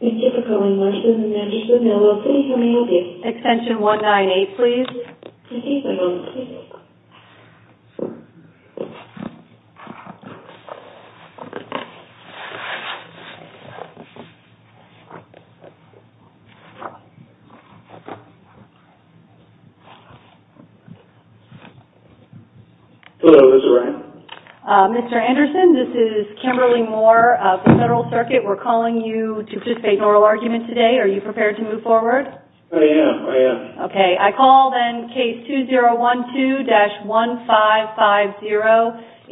Thank you for calling Larson & Anderson, LLC, how may I help you? Extension 198, please. Thank you for calling. Hello, is this right? Mr. Anderson, this is Kimberly Moore of the Federal Circuit. We're calling you to participate in oral argument today. Are you prepared to move forward? I am, I am. Okay, I call then case 2012-1550,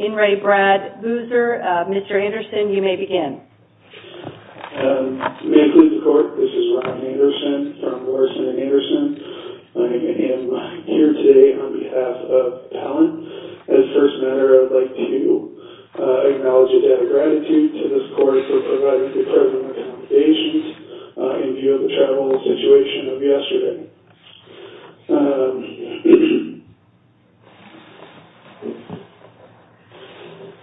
In re Brad Boozer. Mr. Anderson, you may begin. May I please report, this is Ron Anderson from Larson & Anderson. I am here today on behalf of TALENT. As first matter, I'd like to acknowledge a debt of gratitude to this court for providing the present accommodations in view of the travel situation of yesterday.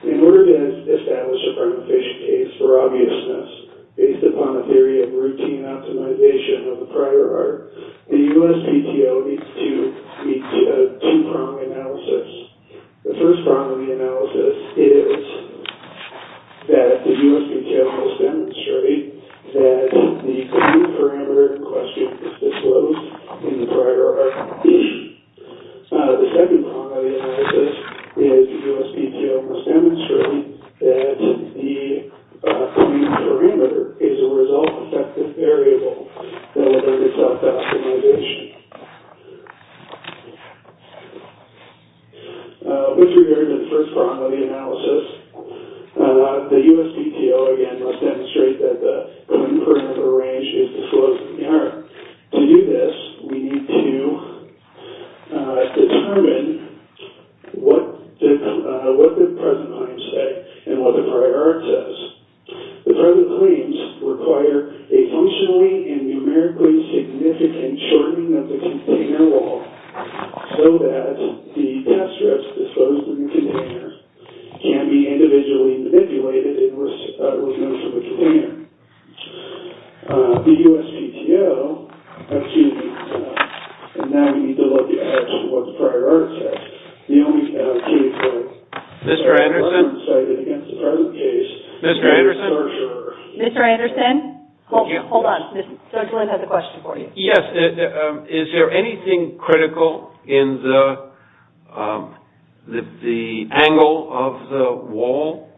In order to establish a prima facie case for obviousness, based upon a theory of routine optimization of the prior art, the USPTO needs to meet two primary analysis. The first primary analysis is that the USPTO must demonstrate that the parameter in question is disclosed in the prior art. The second primary analysis is that the USPTO must demonstrate that the parameter is a result effective variable that limits optimization. With regard to the first primary analysis, the USPTO again must demonstrate that the parameter range is disclosed in the prior art. To do this, we need to determine what the present claims say and what the prior art says. The present claims require a functionally and numerically significant shortening of the container wall so that the debt strips disclosed in the container can be individually manipulated in relation to the container. The USPTO, excuse me, and now we need to look at what the prior art says. Mr. Anderson? Mr. Anderson? Mr. Anderson? Hold on, Ms. Sturgeland has a question for you. Yes, is there anything critical in the angle of the wall?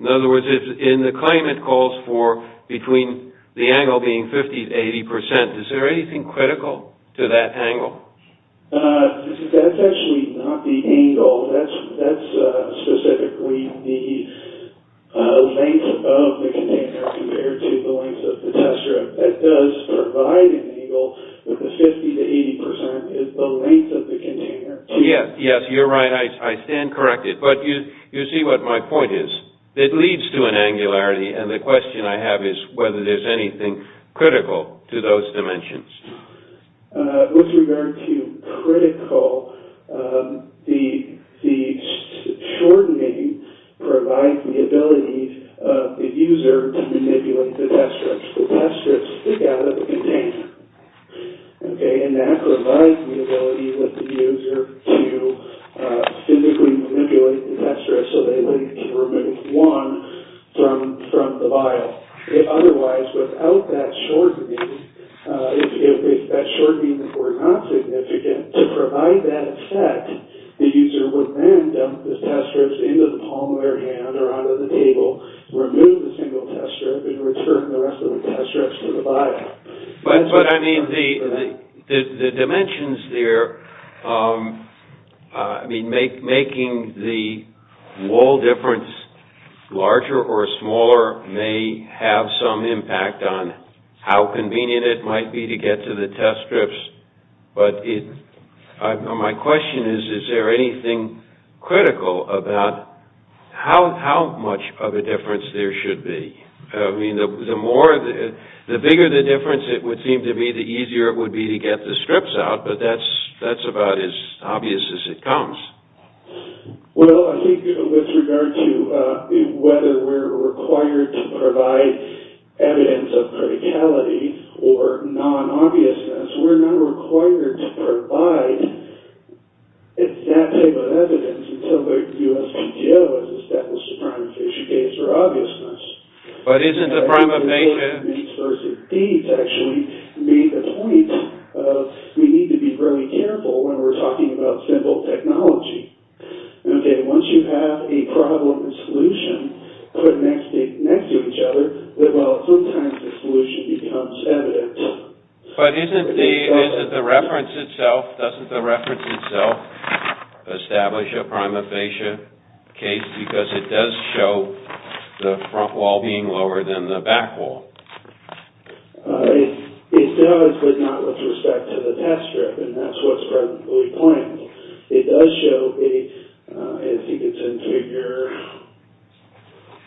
In other words, in the claim it calls for between the angle being 50 to 80 percent, is there anything critical to that angle? That's actually not the angle, that's specifically the length of the container compared to the length of the test strip. It does provide an angle, but the 50 to 80 percent is the length of the container. Yes, you're right, I stand corrected, but you see what my point is. It leads to an angularity, and the question I have is whether there's anything critical to those dimensions. With regard to critical, the shortening provides the ability of the user to manipulate the test strips. The test strips stick out of the container, and that provides the ability of the user to physically manipulate the test strips so they can remove one from the vial. If otherwise, without that shortening, if that shortening were not significant, to provide that effect, the user would then dump the test strips into the palm of their hand or onto the table, remove the single test strip, and return the rest of the test strips to the vial. But, I mean, the dimensions there, I mean, making the wall difference larger or smaller may have some impact on how convenient it might be to get to the test strips, but my question is, is there anything critical about how much of a difference there should be? I mean, the bigger the difference it would seem to be, the easier it would be to get the strips out, but that's about as obvious as it comes. Well, I think with regard to whether we're required to provide evidence of criticality or non-obviousness, we're not required to provide that type of evidence until the USPTO has established a prima facie case for obviousness. But isn't the prima facie... actually made the point of we need to be really careful when we're talking about simple technology. Okay, once you have a problem and solution put next to each other, well, sometimes the solution becomes evident. But doesn't the reference itself establish a prima facie case, because it does show the front wall being lower than the back wall? It does, but not with respect to the test strip, and that's what's presently planned. It does show, as you can see in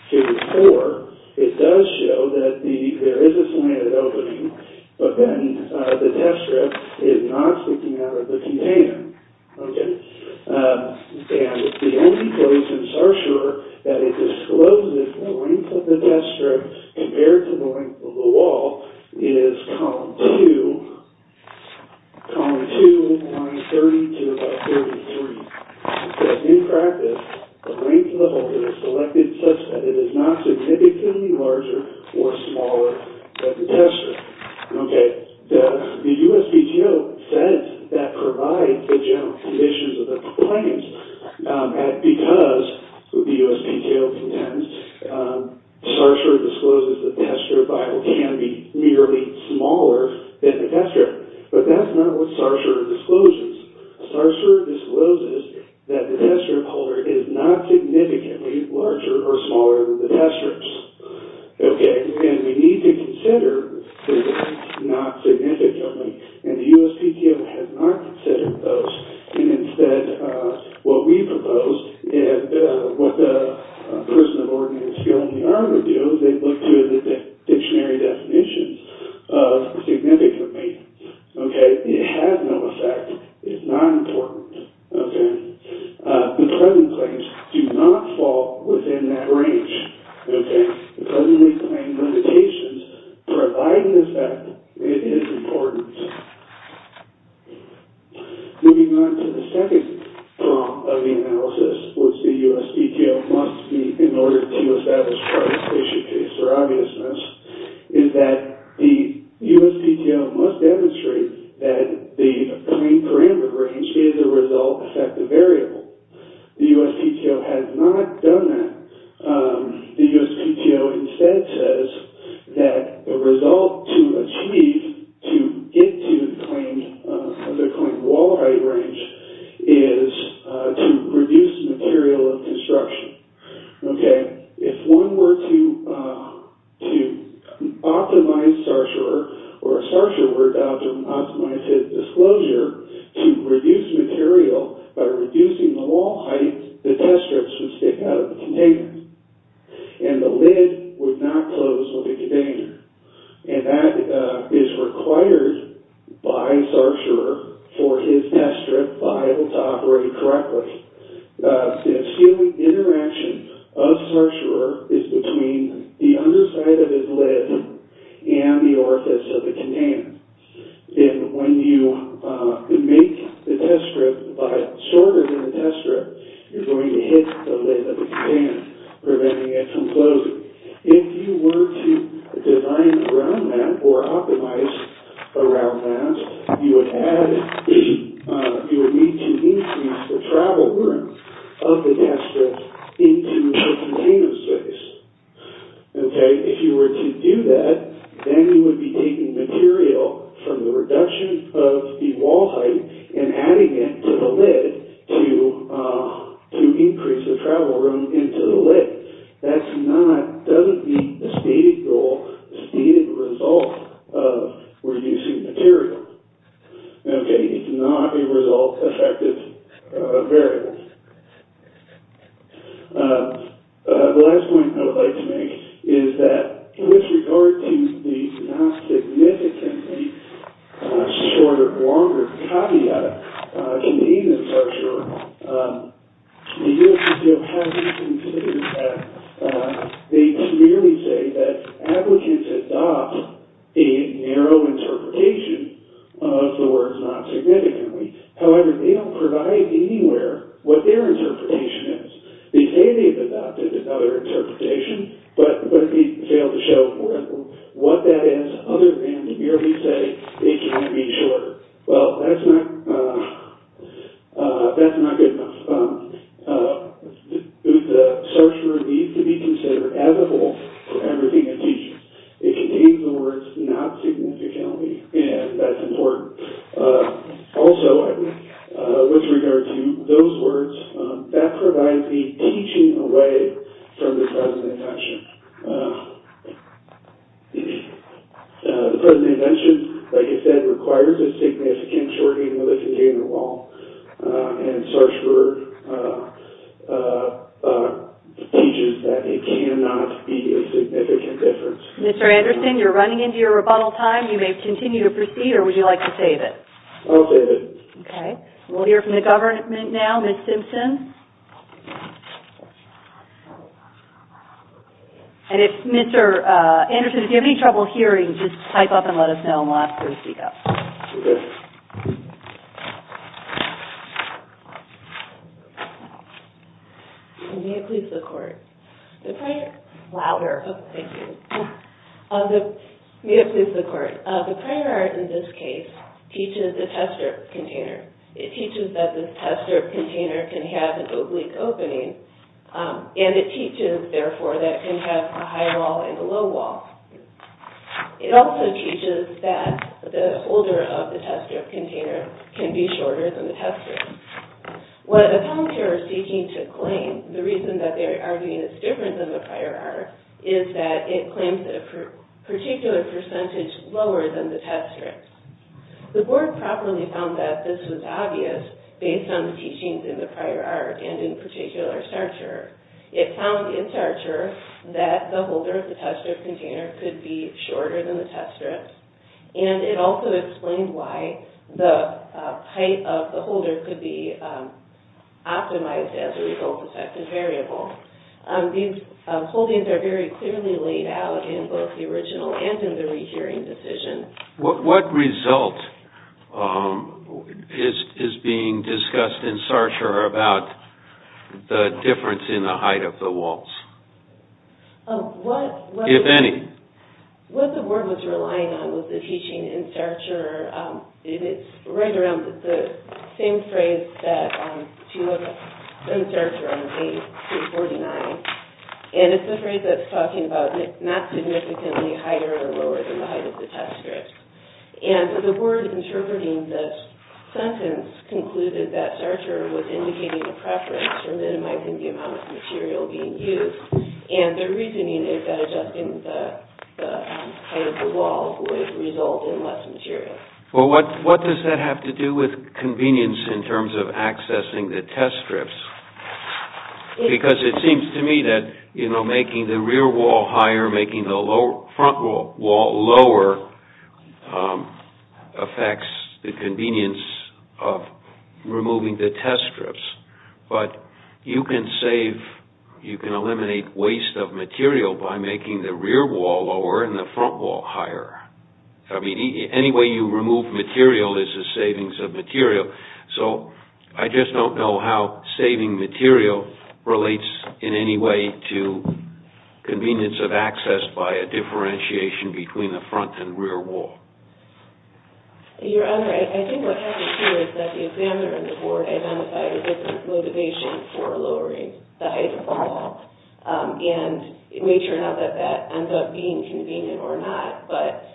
Figure 4, it does show that there is a slanted opening, but then the test strip is not sticking out of the container. Okay, and the only place in SARS-CoV-2 that it discloses the length of the test strip compared to the length of the wall is Column 2, Lines 30-33. In practice, the length of the hole is selected such that it is not significantly larger or smaller than the test strip. Okay, the USPTO says that provides the general conditions of the claims. Because, the USPTO contends, SARS-CoV-2 discloses the test strip vial can be merely smaller than the test strip. But that's not what SARS-CoV-2 discloses. SARS-CoV-2 discloses that the test strip holder is not significantly larger or smaller than the test strips. Okay, and we need to consider the length not significantly, and the USPTO has not considered those. And instead, what we propose, and what the person in order to do, they look to the dictionary definitions of significantly. Okay, it has no effect. It's not important. Okay, the present claims do not fall within that range. Okay, the presently claimed limitations provide an effect. It is important. Moving on to the second part of the analysis, which the USPTO must meet in order to establish participation case for obviousness, is that the USPTO must demonstrate that the claimed parameter range is a result effective variable. The USPTO has not done that. The USPTO instead says that the result to achieve to get to the claimed wall height range is to reduce material of construction. Okay, if one were to optimize SARS-CoV-2, or SARS-CoV-2 were to optimize its disclosure to reduce material by reducing the wall height, the test strips would stick out of the container, and the lid would not close with the container. And that is required by SARS-CoV-2 for its test strip to be able to operate correctly. The sealing interaction of SARS-CoV-2 is between the underside of its lid and the orifice of the container. And when you make the test strip shorter than the test strip, you're going to hit the lid of the container, preventing it from closing. If you were to design around that, or optimize around that, you would need to increase the travel room of the test strip into the container space. Okay, if you were to do that, then you would be taking material from the reduction of the wall height and adding it to the lid to increase the travel room into the lid. That's not, doesn't meet the stated goal, the stated result of reducing material. Okay, it's not a result-effective variable. The last point I would like to make is that with regard to the not significantly shorter, longer caveat, convenience structure, the U.S. Museum has reconsidered that. They clearly say that applicants adopt a narrow interpretation of the words not significantly. However, they don't provide anywhere what their interpretation is. They say they've adopted another interpretation, but they fail to show what that is, other than to merely say it can't be shorter. Well, that's not, that's not good enough. The shorter needs to be considered as a whole for everything it teaches. It contains the words not significantly, and that's important. Also, with regard to those words, that provides the teaching away from the present intention. The present intention, like I said, requires a significant shortening of the container wall, and Sarsberg teaches that it cannot be a significant difference. Mr. Anderson, you're running into your rebuttal time. You may continue to proceed, or would you like to save it? I'll save it. Okay. We'll hear from the government now. Ms. Simpson? And if Mr. Anderson, if you have any trouble hearing, just type up and let us know and we'll ask her to speak up. May it please the Court. The prayer. Louder. Okay, thank you. May it please the Court. The prayer, in this case, teaches the tester container. It teaches that this tester container can have an oblique opening, and it teaches, therefore, that it can have a high wall and a low wall. It also teaches that the holder of the tester container can be shorter than the tester. What the commentators are seeking to claim, the reason that they are arguing it's different than the prior art, is that it claims that a particular percentage lower than the tester. The Board properly found that this was obvious based on the teachings in the prior art, and in particular, Sartre. It found in Sartre that the holder of the tester container could be shorter than the tester, and it also explained why the height of the holder could be optimized as a result-effective variable. These holdings are very clearly laid out in both the original and in the rehearing decision. What result is being discussed in Sartre about the difference in the height of the walls, if any? What the Board was relying on was the teaching in Sartre. It's right around the same phrase that you have in Sartre on page 249, and it's the phrase that's talking about not significantly higher or lower than the height of the test strips. The Board interpreting this sentence concluded that Sartre was indicating a preference for minimizing the amount of material being used, and their reasoning is that adjusting the height of the wall would result in less material. What does that have to do with convenience in terms of accessing the test strips? Because it seems to me that making the rear wall higher, making the front wall lower, affects the convenience of removing the test strips. But you can eliminate waste of material by making the rear wall lower and the front wall higher. I mean, any way you remove material is a savings of material. So I just don't know how saving material relates in any way to convenience of access by a differentiation between the front and rear wall. Your Honor, I think what happened here is that the examiner and the Board identified a different motivation for lowering the height of the wall. And we turn out that that ends up being convenient or not, but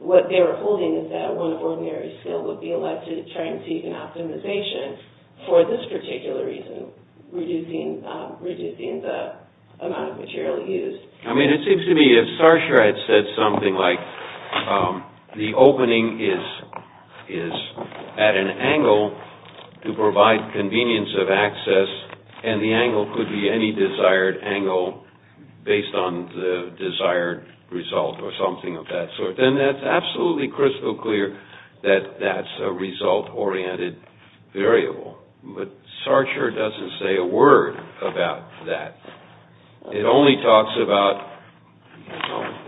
what they were holding is that one of ordinary skill would be elected to try and seek an optimization for this particular reason, reducing the amount of material used. I mean, it seems to me if Sartre had said something like the opening is at an angle to provide convenience of access and the angle could be any desired angle based on the desired result or something of that sort, then that's absolutely crystal clear that that's a result-oriented variable. But Sartre doesn't say a word about that. It only talks about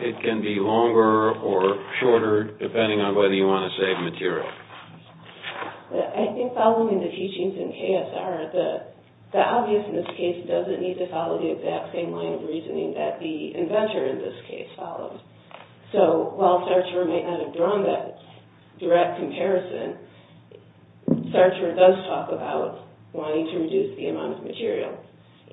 it can be longer or shorter depending on whether you want to save material. I think following the teachings in KSR, the obvious in this case doesn't need to follow the exact same line of reasoning that the inventor in this case followed. So while Sartre may not have drawn that direct comparison, Sartre does talk about wanting to reduce the amount of material.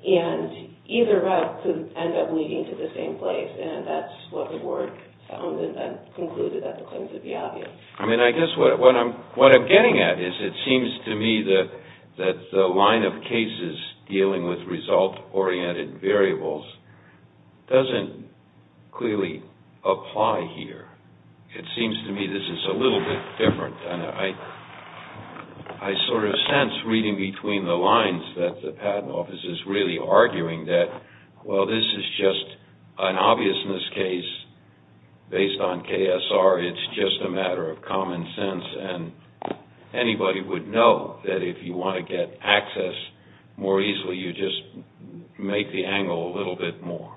And either route could end up leading to the same place, and that's what the Board found and then concluded that the claims would be obvious. I mean, I guess what I'm getting at is it seems to me that the line of cases dealing with result-oriented variables doesn't clearly apply here. It seems to me this is a little bit different, and I sort of sense reading between the lines that the Patent Office is really arguing that, well, this is just an obviousness case based on KSR. It's just a matter of common sense, and anybody would know that if you want to get access more easily, you just make the angle a little bit more.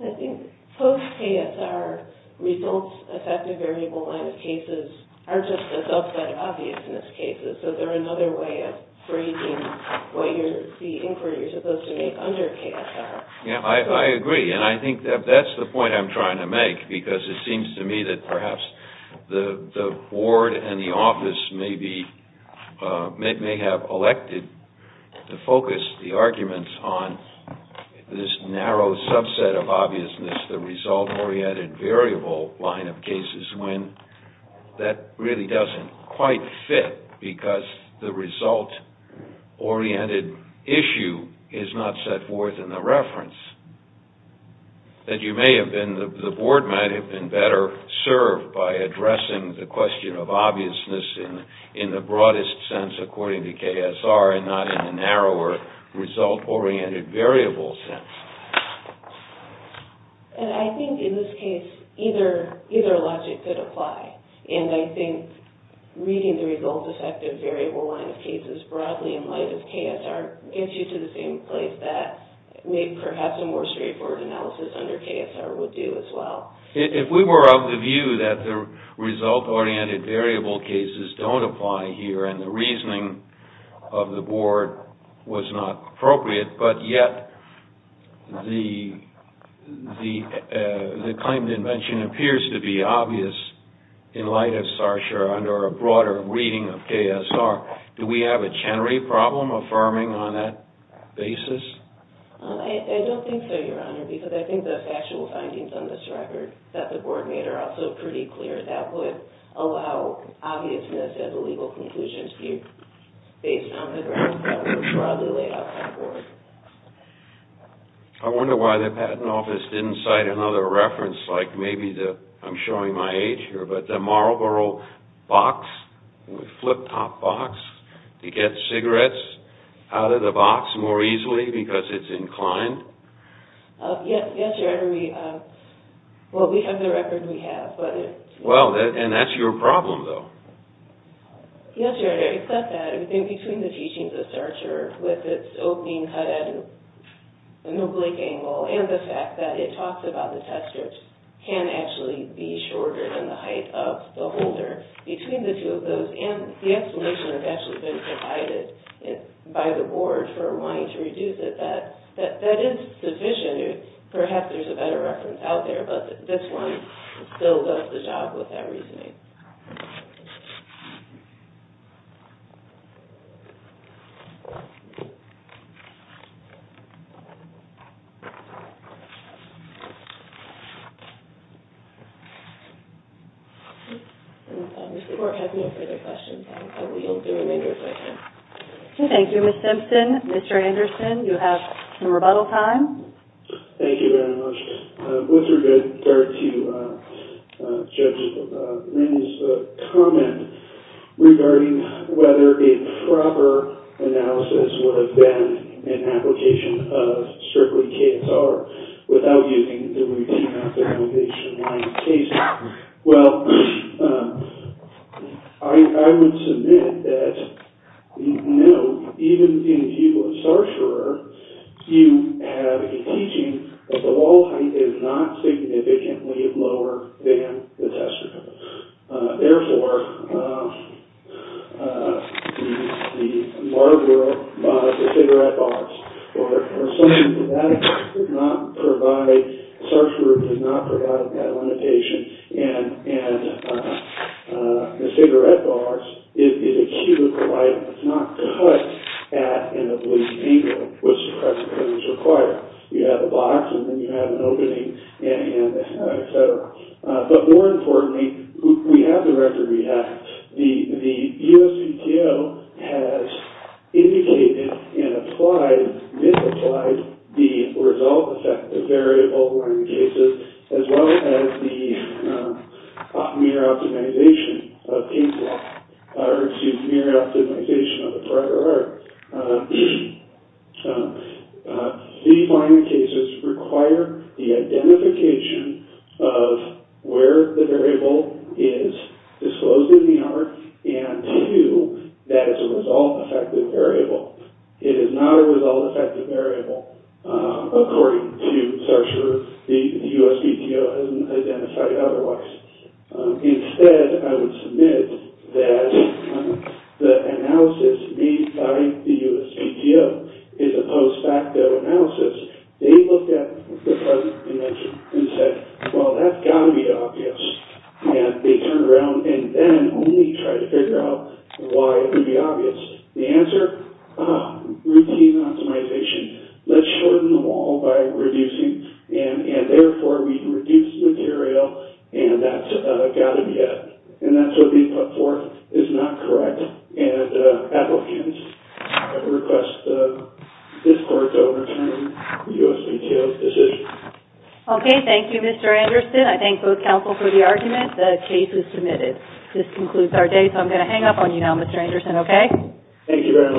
I think post-KSR results-affected variable line of cases aren't just a subset of obviousness cases, so they're another way of phrasing the inquiry you're supposed to make under KSR. Yeah, I agree, and I think that's the point I'm trying to make, because it seems to me that perhaps the Board and the Office may have elected to focus the arguments on this narrow subset of obviousness, the result-oriented variable line of cases, when that really doesn't quite fit, because the result-oriented issue is not set forth in the reference. The Board might have been better served by addressing the question of obviousness in the broadest sense according to KSR and not in the narrower result-oriented variable sense. And I think in this case, either logic could apply, and I think reading the result-affected variable line of cases broadly in light of KSR gets you to the same place that maybe perhaps a more straightforward analysis under KSR would do as well. If we were of the view that the result-oriented variable cases don't apply here and the reasoning of the Board was not appropriate, but yet the claim to invention appears to be obvious in light of CSR under a broader reading of KSR, do we have a Chenery problem affirming on that basis? I don't think so, Your Honor, because I think the factual findings on this record that the Board made are also pretty clear. I don't think that that would allow obviousness as a legal conclusion to be based on the grounds that were broadly laid out by the Board. I wonder why the Patent Office didn't cite another reference like maybe the, I'm showing my age here, but the Marlboro box, the flip-top box, to get cigarettes out of the box more easily because it's inclined? Yes, Your Honor. Well, we have the record we have. Well, and that's your problem, though. Yes, Your Honor. It's not that. I think between the teachings of Starcher with its opening cut at an oblique angle and the fact that it talks about the test scripts can actually be shorter than the height of the holder, between the two of those and the explanation that's actually been provided by the Board for wanting to reduce it, I think that that is the vision. Perhaps there's a better reference out there, but this one still does the job with that reasoning. The Court has no further questions. I will do an intercession. Thank you, Ms. Simpson. Mr. Anderson, you have some rebuttal time. Thank you very much. With regard to Judge Lin's comment regarding whether a proper analysis would have been an application of strictly KSR without using the routine application line of KSR, well, I would submit that, you know, even in the view of Starcher, you have a teaching that the wall height is not significantly lower than the test script. Therefore, the Marlboro cigarette box, or something to that effect, did not provide, Starcher did not provide that limitation, and the cigarette box is a cubical item. It's not cut at an oblique angle, which is what is required. You have a box, and then you have an opening, and et cetera. But more importantly, we have the record we have. The USPTO has indicated and applied, misapplied, the result effect of variable line cases, as well as the mere optimization of the prior art. So, these line cases require the identification of where the variable is disclosed in the art, and two, that it's a result effective variable. It is not a result effective variable, according to Starcher. The USPTO hasn't identified it otherwise. Instead, I would submit that the analysis made by the USPTO is a post facto analysis. They looked at the present dimension and said, well, that's got to be obvious. And they turned around and then only tried to figure out why it would be obvious. The answer, routine optimization. Let's shorten them all by reducing. And therefore, we can reduce material, and that's got to be it. And that's what they put forth is not correct. And applicants, I would request this court to overturn the USPTO's decision. Okay, thank you, Mr. Anderson. I thank both counsel for the argument. The case is submitted. This concludes our day, so I'm going to hang up on you now, Mr. Anderson, okay? Thank you very much. Very good. All rise.